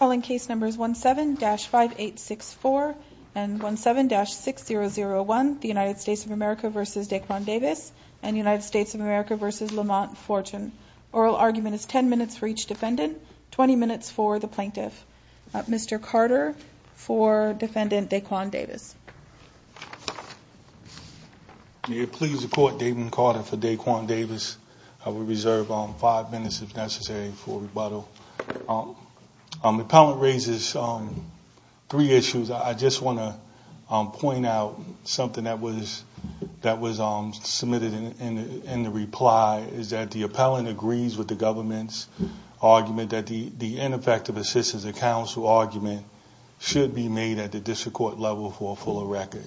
All in case numbers 17-5864 and 17-6001, the United States of America v. Daequan Davis and the United States of America v. Lamont Fortune. Oral argument is 10 minutes for each defendant, 20 minutes for the plaintiff. Mr. Carter for defendant Daequan Davis. May it please the court, David Carter for Daequan Davis. I will reserve five minutes if necessary for rebuttal. The appellant raises three issues. I just want to point out something that was submitted in the reply. The appellant agrees with the government's argument that the ineffective assistance of counsel argument should be made at the district court level for a fuller record.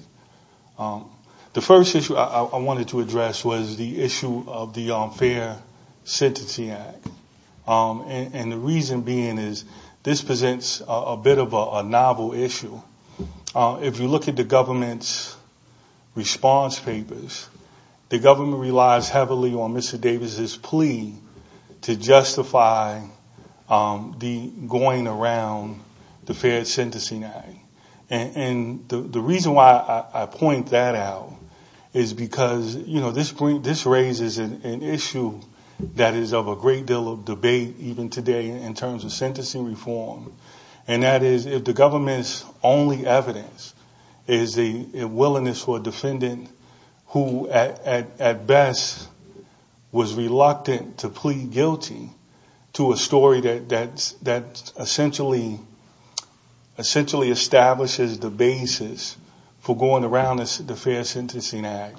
The first issue I wanted to address was the issue of the unfair sentencing act. And the reason being is this presents a bit of a novel issue. If you look at the government's response papers, the government relies heavily on Mr. Davis' plea to justify going around the fair sentencing act. And the reason why I point that out is because this raises an issue that is of a great deal of debate even today in terms of sentencing reform. And that is if the government's only evidence is a willingness for a defendant who at best was reluctant to plead guilty to a story that essentially establishes the basis for going around the fair sentencing act,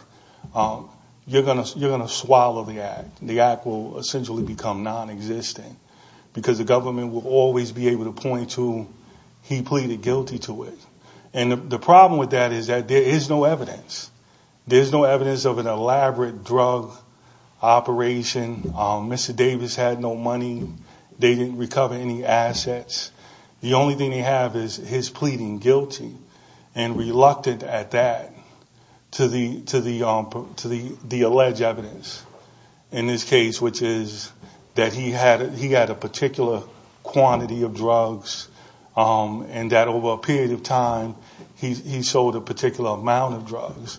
you're going to swallow the act. The act will essentially become nonexistent because the government will always be able to point to he pleaded guilty to it. And the problem with that is that there is no evidence. There is no evidence of an elaborate drug operation. Mr. Davis had no money. They didn't recover any assets. The only thing they have is his pleading guilty and reluctant at that to the alleged evidence in this case, which is that he had a particular quantity of drugs and that over a period of time he sold a particular amount of drugs.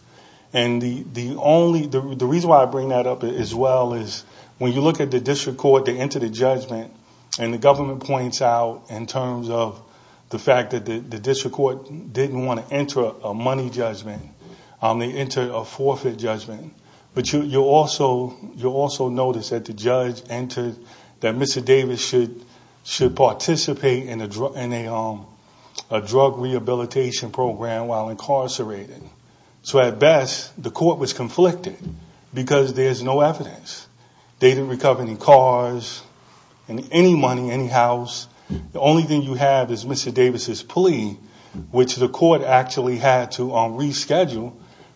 And the reason why I bring that up as well is when you look at the district court, they enter the judgment, and the government points out in terms of the fact that the district court didn't want to enter a money judgment. They entered a forfeit judgment. But you'll also notice that the judge entered that Mr. Davis should participate in a drug rehabilitation program while incarcerated. So at best, the court was conflicted because there's no evidence. They didn't recover any cars and any money, any house. The only thing you have is Mr. Davis's plea, which the court actually had to reschedule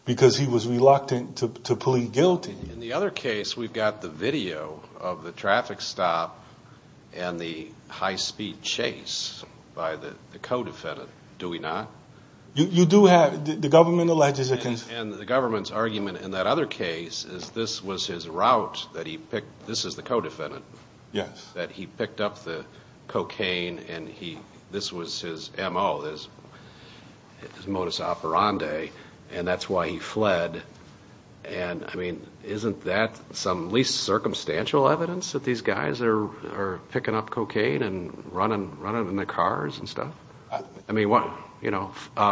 because he was reluctant to plead guilty. In the other case, we've got the video of the traffic stop and the high-speed chase by the co-defendant. Do we not? You do have the government alleges it. And the government's argument in that other case is this was his route that he picked. This is the co-defendant. Yes. That he picked up the cocaine, and this was his M.O., his modus operandi, and that's why he fled. And, I mean, isn't that some least circumstantial evidence that these guys are picking up cocaine and running in their cars and stuff? I mean, you know,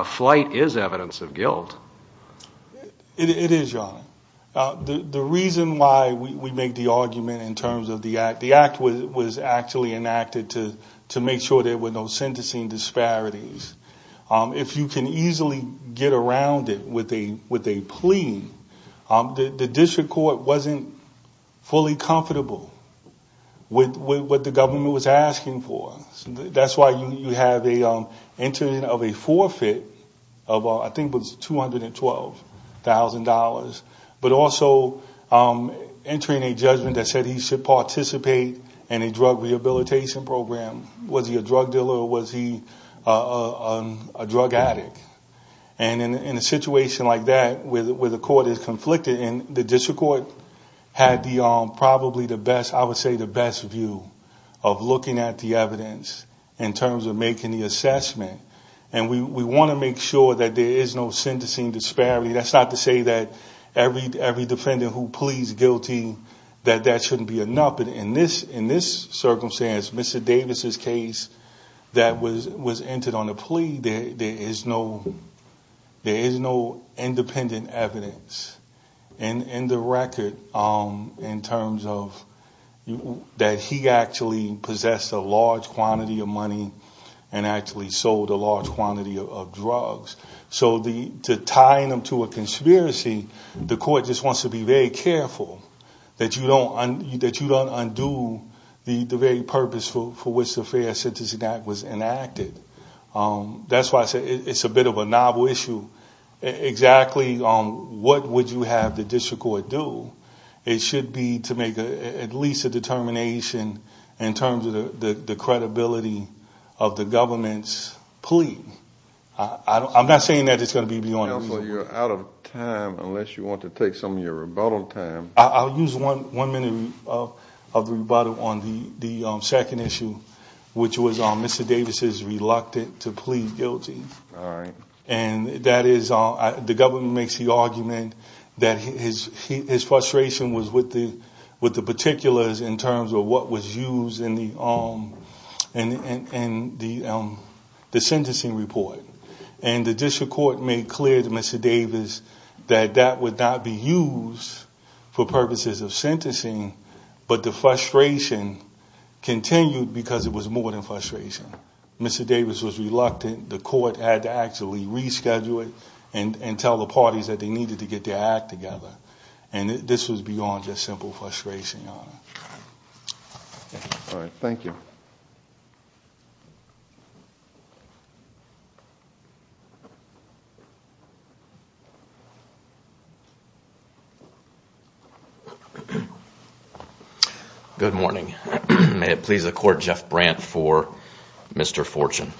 flight is evidence of guilt. It is, Your Honor. The reason why we make the argument in terms of the act, the act was actually enacted to make sure there were no sentencing disparities. If you can easily get around it with a plea, the district court wasn't fully comfortable with what the government was asking for. That's why you have the entering of a forfeit of, I think it was $212,000, but also entering a judgment that said he should participate in a drug rehabilitation program. Was he a drug dealer or was he a drug addict? And in a situation like that where the court is conflicted, and the district court had probably the best, I would say the best view of looking at the evidence in terms of making the assessment. And we want to make sure that there is no sentencing disparity. That's not to say that every defendant who pleads guilty, that that shouldn't be enough. But in this circumstance, Mr. Davis' case that was entered on a plea, there is no independent evidence in the record in terms of that he actually possessed a large quantity of money and actually sold a large quantity of drugs. So to tie him to a conspiracy, the court just wants to be very careful that you don't undo the very purpose for which the Fair Sentencing Act was enacted. That's why I say it's a bit of a novel issue. Exactly what would you have the district court do? It should be to make at least a determination in terms of the credibility of the government's plea. I'm not saying that it's going to be beyond reasonable. You're out of time unless you want to take some of your rebuttal time. I'll use one minute of rebuttal on the second issue, which was Mr. Davis' reluctance to plead guilty. The government makes the argument that his frustration was with the particulars in terms of what was used in the sentencing report. And the district court made clear to Mr. Davis that that would not be used for purposes of sentencing, but the frustration continued because it was more than frustration. Mr. Davis was reluctant. The court had to actually reschedule it and tell the parties that they needed to get their act together, and this was beyond just simple frustration, Your Honor. All right. Thank you. Good morning. May it please the Court, Jeff Brandt for Mr. Fortune.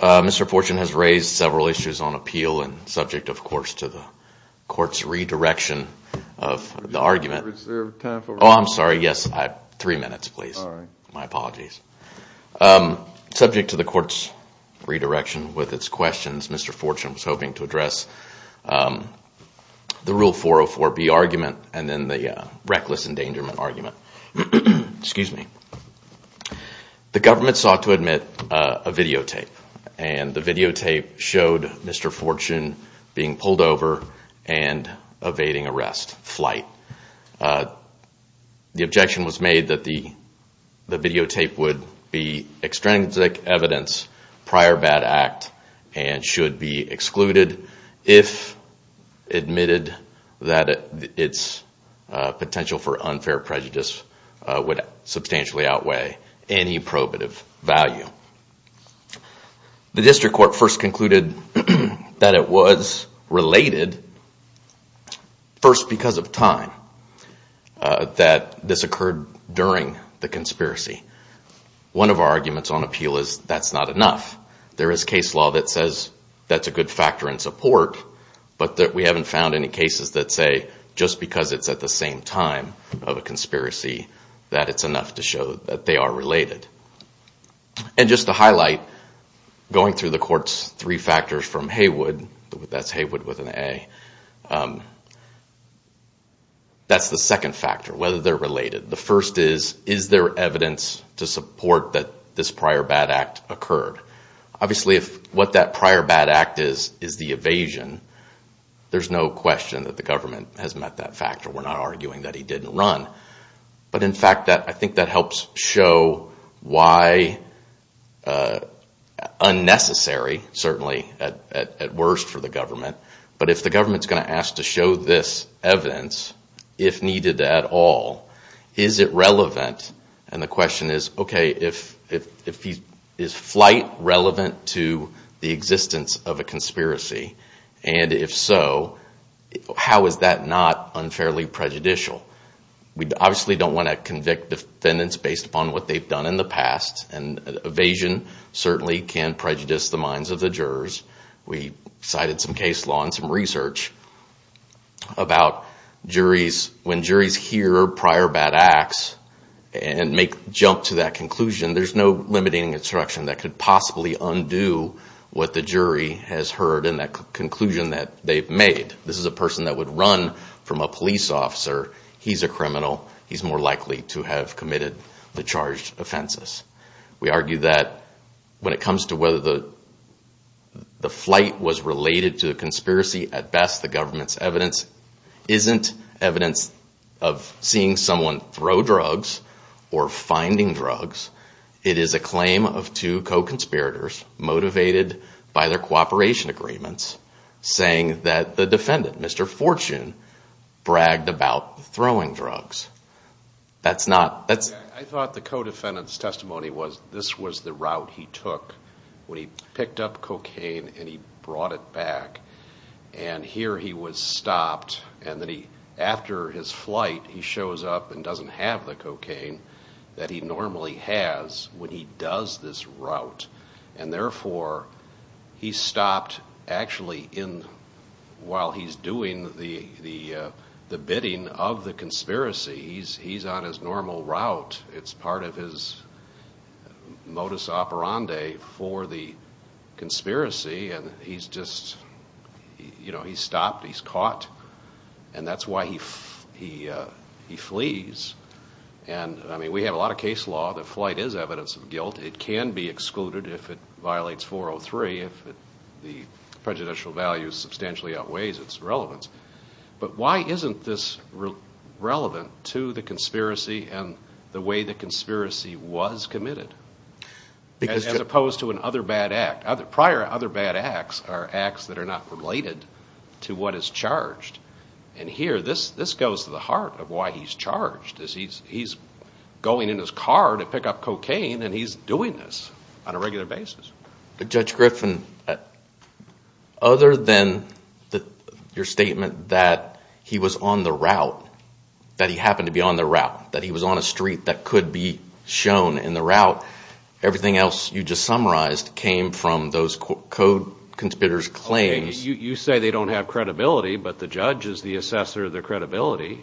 Mr. Fortune has raised several issues on appeal and subject, of course, to the Court's redirection of the argument. Is there time for one more? Oh, I'm sorry, yes. Three minutes, please. All right. My apologies. Subject to the Court's redirection with its questions, Mr. Fortune was hoping to address the Rule 404B argument and then the reckless endangerment argument. Excuse me. The government sought to admit a videotape, and the videotape showed Mr. Fortune being pulled over and evading arrest, flight. The objection was made that the videotape would be extrinsic evidence, prior bad act, and should be excluded if admitted that its potential for unfair prejudice would substantially outweigh any probative value. The District Court first concluded that it was related, first because of time, that this occurred during the conspiracy. One of our arguments on appeal is that's not enough. There is case law that says that's a good factor in support, but we haven't found any cases that say just because it's at the same time of a conspiracy that it's enough to show that they are related. And just to highlight, going through the Court's three factors from Haywood, that's Haywood with an A, that's the second factor, whether they're related. The first is, is there evidence to support that this prior bad act occurred? Obviously, if what that prior bad act is is the evasion, there's no question that the government has met that factor. We're not arguing that he didn't run. But in fact, I think that helps show why unnecessary, certainly, at worst for the government. But if the government's going to ask to show this evidence, if needed at all, is it relevant? And the question is, okay, is flight relevant to the existence of a conspiracy? And if so, how is that not unfairly prejudicial? We obviously don't want to convict defendants based upon what they've done in the past. And evasion certainly can prejudice the minds of the jurors. We cited some case law and some research about when juries hear prior bad acts and make a jump to that conclusion, there's no limiting instruction that could possibly undo what the jury has heard in that conclusion that they've made. This is a person that would run from a police officer. He's a criminal. He's more likely to have committed the charged offenses. We argue that when it comes to whether the flight was related to a conspiracy, at best the government's evidence isn't evidence of seeing someone throw drugs or finding drugs. It is a claim of two co-conspirators motivated by their cooperation agreements saying that the defendant, Mr. Fortune, bragged about throwing drugs. I thought the co-defendant's testimony was this was the route he took when he picked up cocaine and he brought it back. And here he was stopped, and after his flight he shows up and doesn't have the cocaine that he normally has when he does this route. And therefore, he stopped actually while he's doing the bidding of the conspiracy. He's on his normal route. It's part of his modus operandi for the conspiracy, and he's stopped. He's caught, and that's why he flees. We have a lot of case law that flight is evidence of guilt. It can be excluded if it violates 403. If the prejudicial value substantially outweighs its relevance. But why isn't this relevant to the conspiracy and the way the conspiracy was committed? As opposed to an other bad act. Prior other bad acts are acts that are not related to what is charged. And here, this goes to the heart of why he's charged. He's going in his car to pick up cocaine, and he's doing this on a regular basis. Judge Griffin, other than your statement that he was on the route, that he happened to be on the route, that he was on a street that could be shown in the route, everything else you just summarized came from those co-conspirators' claims. You say they don't have credibility, but the judge is the assessor of their credibility.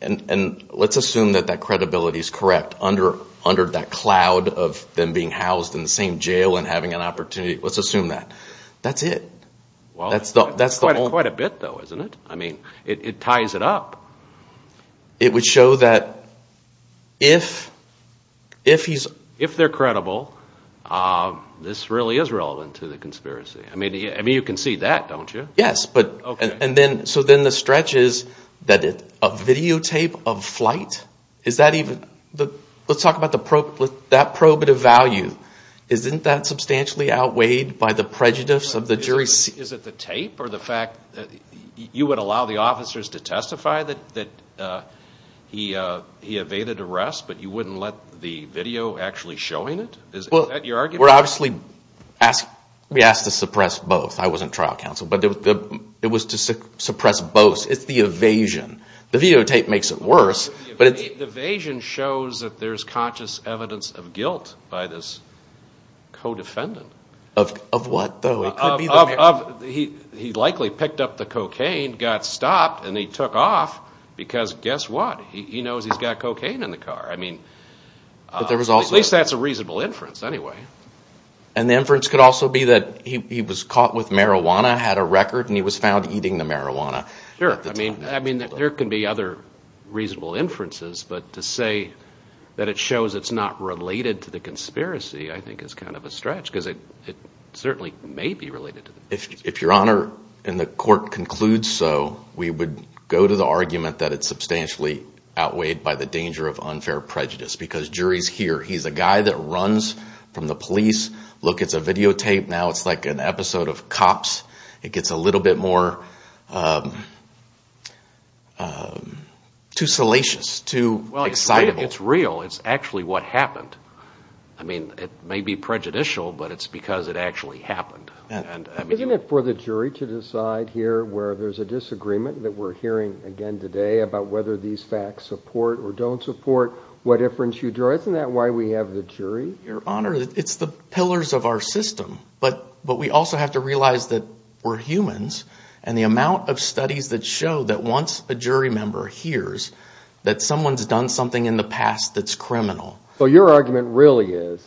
And let's assume that that credibility is correct under that cloud of them being housed in the same jail and having an opportunity. Let's assume that. That's it. Quite a bit, though, isn't it? I mean, it ties it up. It would show that if they're credible, this really is relevant to the conspiracy. I mean, you can see that, don't you? So then the stretch is that a videotape of flight? Let's talk about that probative value. Isn't that substantially outweighed by the prejudice of the jury? Is it the tape or the fact that you would allow the officers to testify that he evaded arrest, but you wouldn't let the video actually showing it? Is that your argument? We're obviously asked to suppress both. I wasn't trial counsel, but it was to suppress both. It's the evasion. The videotape makes it worse. The evasion shows that there's conscious evidence of guilt by this co-defendant. Of what, though? He likely picked up the cocaine, got stopped, and he took off because guess what? He knows he's got cocaine in the car. I mean, at least that's a reasonable inference anyway. And the inference could also be that he was caught with marijuana, had a record, and he was found eating the marijuana. Sure. I mean, there can be other reasonable inferences, but to say that it shows it's not related to the conspiracy I think is kind of a stretch because it certainly may be related to the conspiracy. If Your Honor and the court conclude so, we would go to the argument that it's substantially outweighed by the danger of unfair prejudice because jury's here. He's a guy that runs from the police. Look, it's a videotape. Now it's like an episode of Cops. It gets a little bit more too salacious, too excitable. It's real. It's actually what happened. I mean, it may be prejudicial, but it's because it actually happened. Isn't it for the jury to decide here where there's a disagreement that we're hearing again today about whether these facts support or don't support what inference you drew? Isn't that why we have the jury? Your Honor, it's the pillars of our system, but we also have to realize that we're humans and the amount of studies that show that once a jury member hears that someone's done something in the past that's criminal. So your argument really is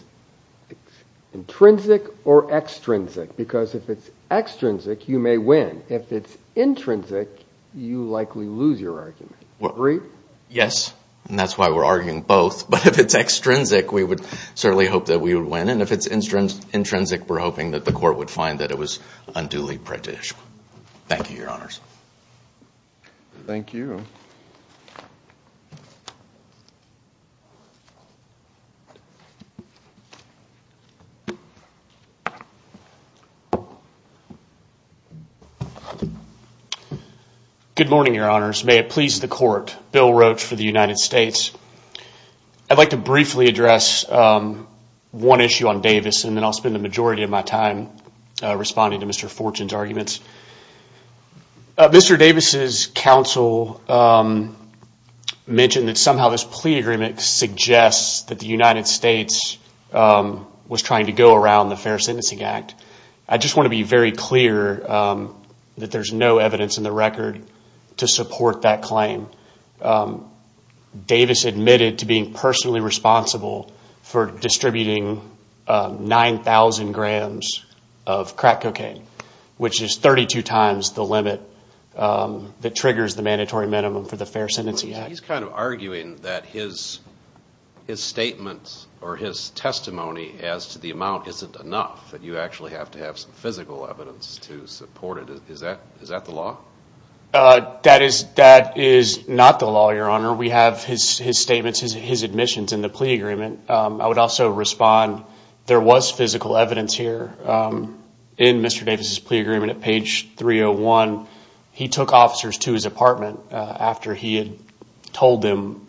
intrinsic or extrinsic because if it's extrinsic, you may win. If it's intrinsic, you likely lose your argument. Agree? Yes. And that's why we're arguing both. But if it's extrinsic, we would certainly hope that we would win. And if it's intrinsic, we're hoping that the court would find that it was unduly prejudicial. Thank you, Your Honors. Thank you. Good morning, Your Honors. May it please the court, Bill Roach for the United States. I'd like to briefly address one issue on Davis and then I'll spend the majority of my time responding to Mr. Fortune's arguments. Mr. Davis's counsel mentioned that somehow this plea agreement suggests that the United States was trying to go around the Fair Sentencing Act. I just want to be very clear that there's no evidence in the record to support that claim. Davis admitted to being personally responsible for distributing 9,000 grams of crack cocaine, which is 32 times the limit that triggers the mandatory minimum for the Fair Sentencing Act. He's kind of arguing that his statement or his testimony as to the amount isn't enough, that you actually have to have some physical evidence to support it. Is that the law? That is not the law, Your Honor. We have his statements, his admissions in the plea agreement. I would also respond, there was physical evidence here in Mr. Davis's plea agreement. At page 301, he took officers to his apartment after he had told them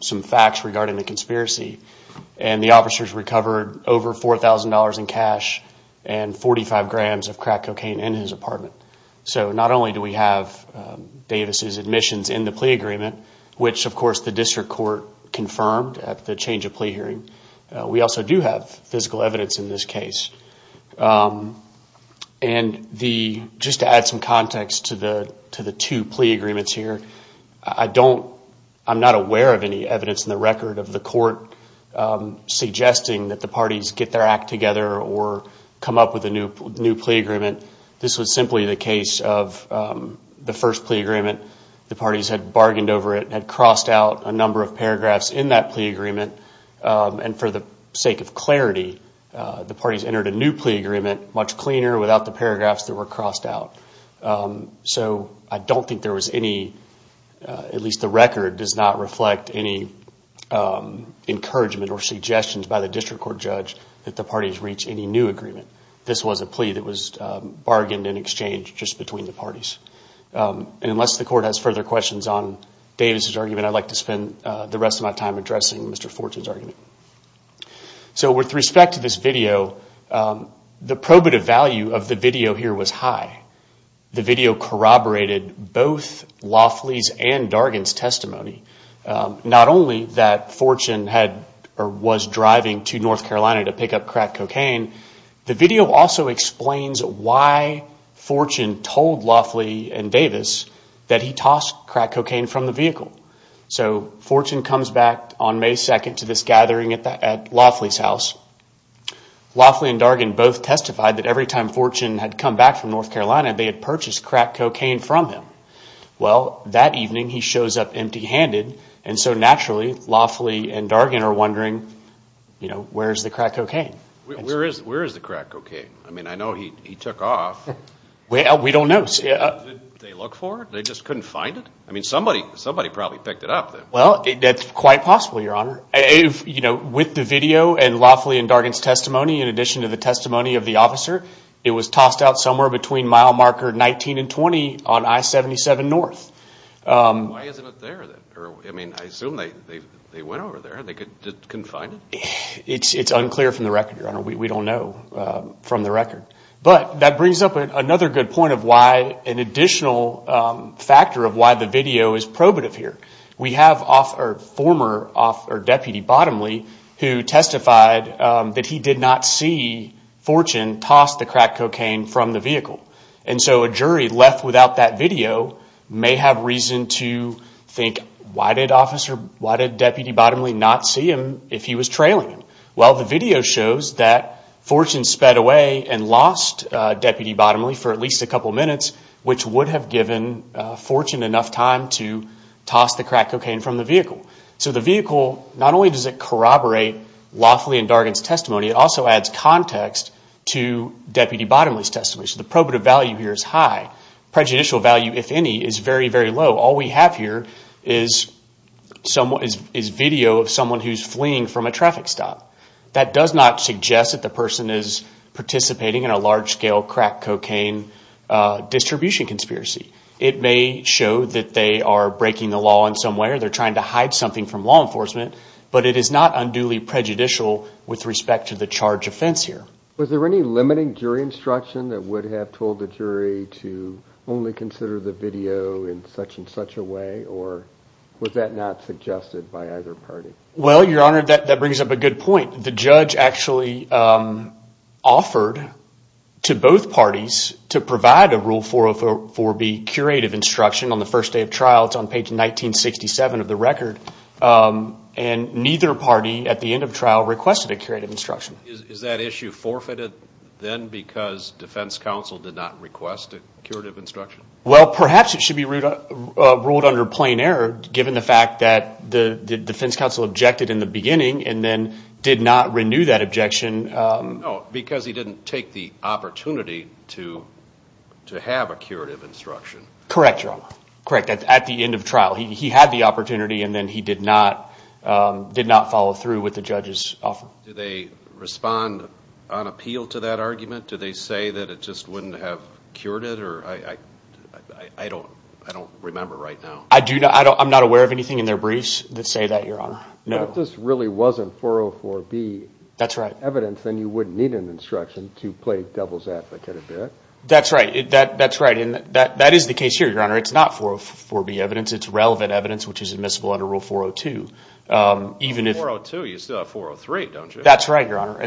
some facts regarding the conspiracy, and the officers recovered over $4,000 in cash and 45 grams of crack cocaine in his apartment. So not only do we have Davis's admissions in the plea agreement, which of course the district court confirmed at the change of plea hearing, we also do have physical evidence in this case. And just to add some context to the two plea agreements here, I'm not aware of any evidence in the record of the court suggesting that the parties get their act together or come up with a new plea agreement. This was simply the case of the first plea agreement. The parties had bargained over it, had crossed out a number of paragraphs in that plea agreement, and for the sake of clarity, the parties entered a new plea agreement much cleaner, without the paragraphs that were crossed out. So I don't think there was any, at least the record does not reflect any encouragement or suggestions by the district court judge that the parties reach any new agreement. This was a plea that was bargained and exchanged just between the parties. And I'd like to spend the rest of my time addressing Mr. Fortune's argument. So with respect to this video, the probative value of the video here was high. The video corroborated both Laughley's and Dargan's testimony. Not only that Fortune was driving to North Carolina to pick up crack cocaine, the video also explains why Fortune told Laughley and Davis that he tossed crack cocaine from the vehicle. So Fortune comes back on May 2nd to this gathering at Laughley's house. Laughley and Dargan both testified that every time Fortune had come back from North Carolina, they had purchased crack cocaine from him. Well, that evening he shows up empty-handed, and so naturally Laughley and Dargan are wondering, you know, where is the crack cocaine? Where is the crack cocaine? I mean, I know he took off. Well, we don't know. Did they look for it? They just couldn't find it? I mean, somebody probably picked it up then. Well, that's quite possible, Your Honor. You know, with the video and Laughley and Dargan's testimony, in addition to the testimony of the officer, it was tossed out somewhere between mile marker 19 and 20 on I-77 North. Why isn't it there? I mean, I assume they went over there and they couldn't find it? It's unclear from the record, Your Honor. We don't know from the record. But that brings up another good point of why an additional factor of why the video is probative here. We have a former deputy, Bottomley, who testified that he did not see Fortune toss the crack cocaine from the vehicle. And so a jury left without that video may have reason to think, why did Deputy Bottomley not see him if he was trailing him? Well, the video shows that Fortune sped away and lost Deputy Bottomley for at least a couple minutes, which would have given Fortune enough time to toss the crack cocaine from the vehicle. So the vehicle, not only does it corroborate Laughley and Dargan's testimony, it also adds context to Deputy Bottomley's testimony. So the probative value here is high. Prejudicial value, if any, is very, very low. All we have here is video of someone who's fleeing from a traffic stop. That does not suggest that the person is participating in a large-scale crack cocaine distribution conspiracy. It may show that they are breaking the law in some way or they're trying to hide something from law enforcement, but it is not unduly prejudicial with respect to the charge of offense here. Was there any limiting jury instruction that would have told the jury to only consider the video in such and such a way, or was that not suggested by either party? Well, Your Honor, that brings up a good point. The judge actually offered to both parties to provide a Rule 404B curative instruction on the first day of trial. It's on page 1967 of the record. And neither party at the end of trial requested a curative instruction. Is that issue forfeited then because defense counsel did not request a curative instruction? Well, perhaps it should be ruled under plain error, given the fact that the defense counsel objected in the beginning and then did not renew that objection. No, because he didn't take the opportunity to have a curative instruction. Correct, Your Honor. Correct, at the end of trial. He had the opportunity and then he did not follow through with the judge's offer. Do they respond on appeal to that argument? Do they say that it just wouldn't have cured it? I don't remember right now. I'm not aware of anything in their briefs that say that, Your Honor. If this really wasn't 404B evidence, then you wouldn't need an instruction to play devil's advocate, is that it? That's right. That is the case here, Your Honor. It's not 404B evidence. It's relevant evidence, which is admissible under Rule 402. 402, you still have 403, don't you? That's right, Your Honor.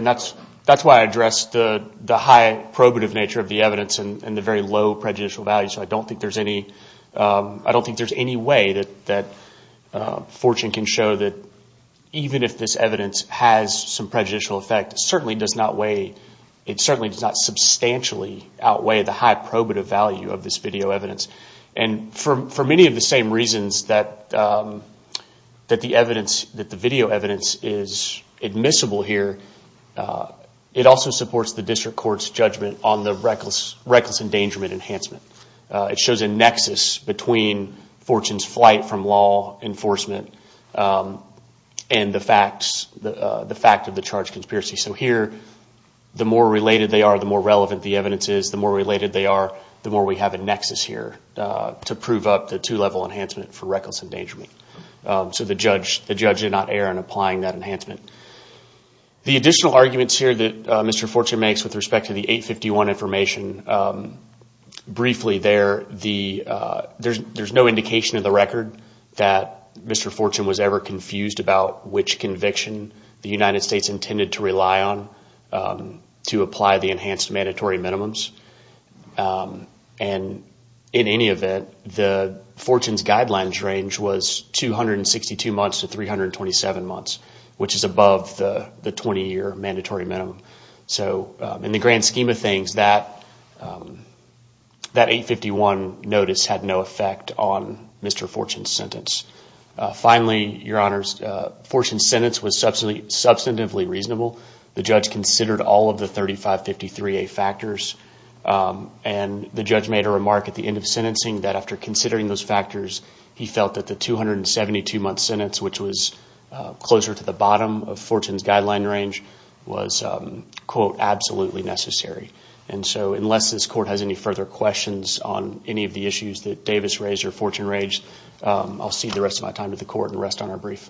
That's why I addressed the high probative nature of the evidence and the very low prejudicial value. I don't think there's any way that fortune can show that even if this evidence has some prejudicial effect, it certainly does not substantially outweigh the high probative value of this video evidence. For many of the same reasons that the video evidence is admissible here, it also supports the district court's judgment on the reckless endangerment enhancement. It shows a nexus between fortune's flight from law enforcement and the fact of the charged conspiracy. Here, the more related they are, the more relevant the evidence is. The more related they are, the more we have a nexus here to prove up the two-level enhancement for reckless endangerment. So the judge did not err in applying that enhancement. The additional arguments here that Mr. Fortune makes with respect to the 851 information, briefly there, there's no indication in the record that Mr. Fortune was ever confused about which conviction the United States intended to rely on to apply the enhanced mandatory minimums. And in any event, the fortune's guidelines range was 262 months to 327 months, which is above the 20-year mandatory minimum. So in the grand scheme of things, that 851 notice had no effect on Mr. Fortune's sentence. Finally, your honors, Fortune's sentence was substantively reasonable. The judge considered all of the 3553A factors, and the judge made a remark at the end of sentencing that after considering those factors, he felt that the 272-month sentence, which was closer to the bottom of Fortune's guideline range, was, quote, absolutely necessary. And so unless this court has any further questions on any of the issues that Davis raised or Fortune raised, I'll cede the rest of my time to the court and rest on our brief.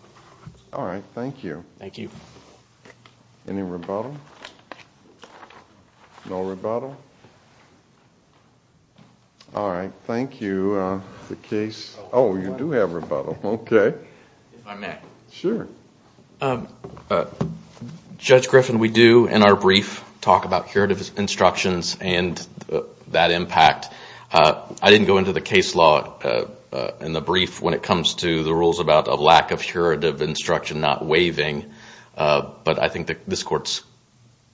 All right. Thank you. Thank you. Any rebuttal? No rebuttal? All right. Thank you. Oh, you do have rebuttal. Okay. If I may. Sure. Judge Griffin, we do in our brief talk about curative instructions and that impact. I didn't go into the case law in the brief when it comes to the rules about a lack of curative instruction not waiving, but I think this court's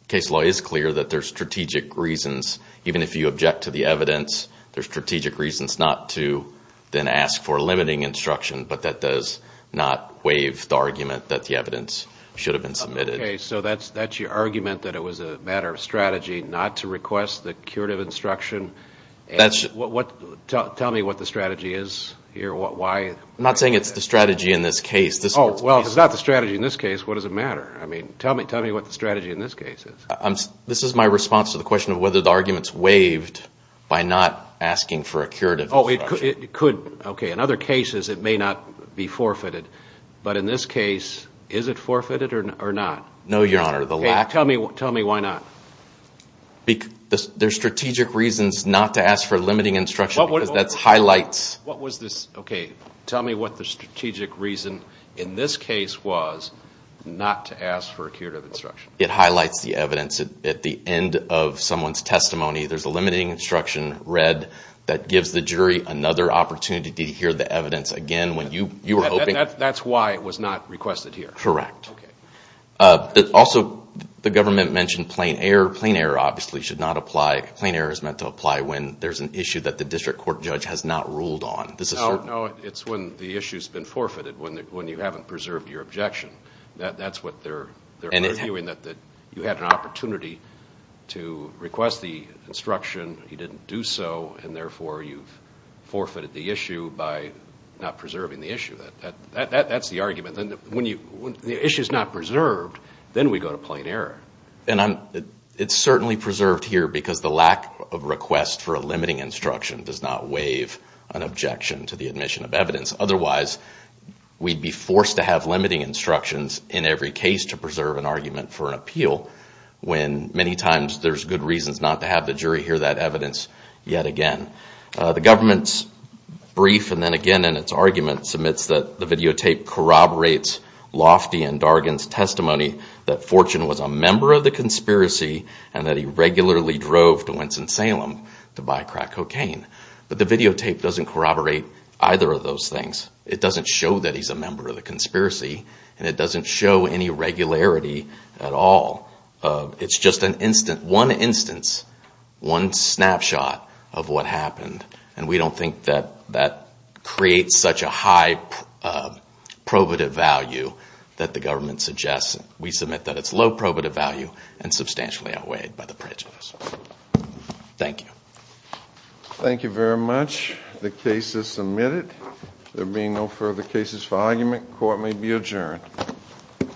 case law is clear that there's strategic reasons. Even if you object to the evidence, there's strategic reasons not to then ask for limiting instruction, but that does not waive the argument that the evidence should have been submitted. Okay. So that's your argument that it was a matter of strategy not to request the curative instruction? Tell me what the strategy is here. Why? I'm not saying it's the strategy in this case. Oh, well, if it's not the strategy in this case, what does it matter? I mean, tell me what the strategy in this case is. This is my response to the question of whether the argument's waived by not asking for a curative instruction. Oh, it could. Okay. In other cases, it may not be forfeited. But in this case, is it forfeited or not? No, Your Honor. Tell me why not. There's strategic reasons not to ask for limiting instruction because that highlights. What was this? Okay. Tell me what the strategic reason in this case was not to ask for a curative instruction. It highlights the evidence at the end of someone's testimony. There's a limiting instruction read that gives the jury another opportunity to hear the evidence again. That's why it was not requested here? Correct. Okay. Also, the government mentioned plain error. Plain error obviously should not apply. Plain error is meant to apply when there's an issue that the district court judge has not ruled on. No, it's when the issue's been forfeited, when you haven't preserved your objection. That's what they're arguing, that you had an opportunity to request the instruction, you didn't do so, and therefore you've forfeited the issue by not preserving the issue. That's the argument. When the issue's not preserved, then we go to plain error. And it's certainly preserved here because the lack of request for a limiting instruction does not waive an objection to the admission of evidence. Otherwise, we'd be forced to have limiting instructions in every case to preserve an argument for an appeal when many times there's good reasons not to have the jury hear that evidence yet again. The government's brief, and then again in its argument, submits that the videotape corroborates Lofty and Dargan's testimony that Fortune was a member of the conspiracy and that he regularly drove to Winston-Salem to buy crack cocaine. But the videotape doesn't corroborate either of those things. It doesn't show that he's a member of the conspiracy, and it doesn't show any regularity at all. It's just one instance, one snapshot of what happened, and we don't think that that creates such a high probative value that the government suggests. We submit that it's low probative value and substantially outweighed by the prejudice. Thank you. Thank you very much. The case is submitted. There being no further cases for argument, court may be adjourned.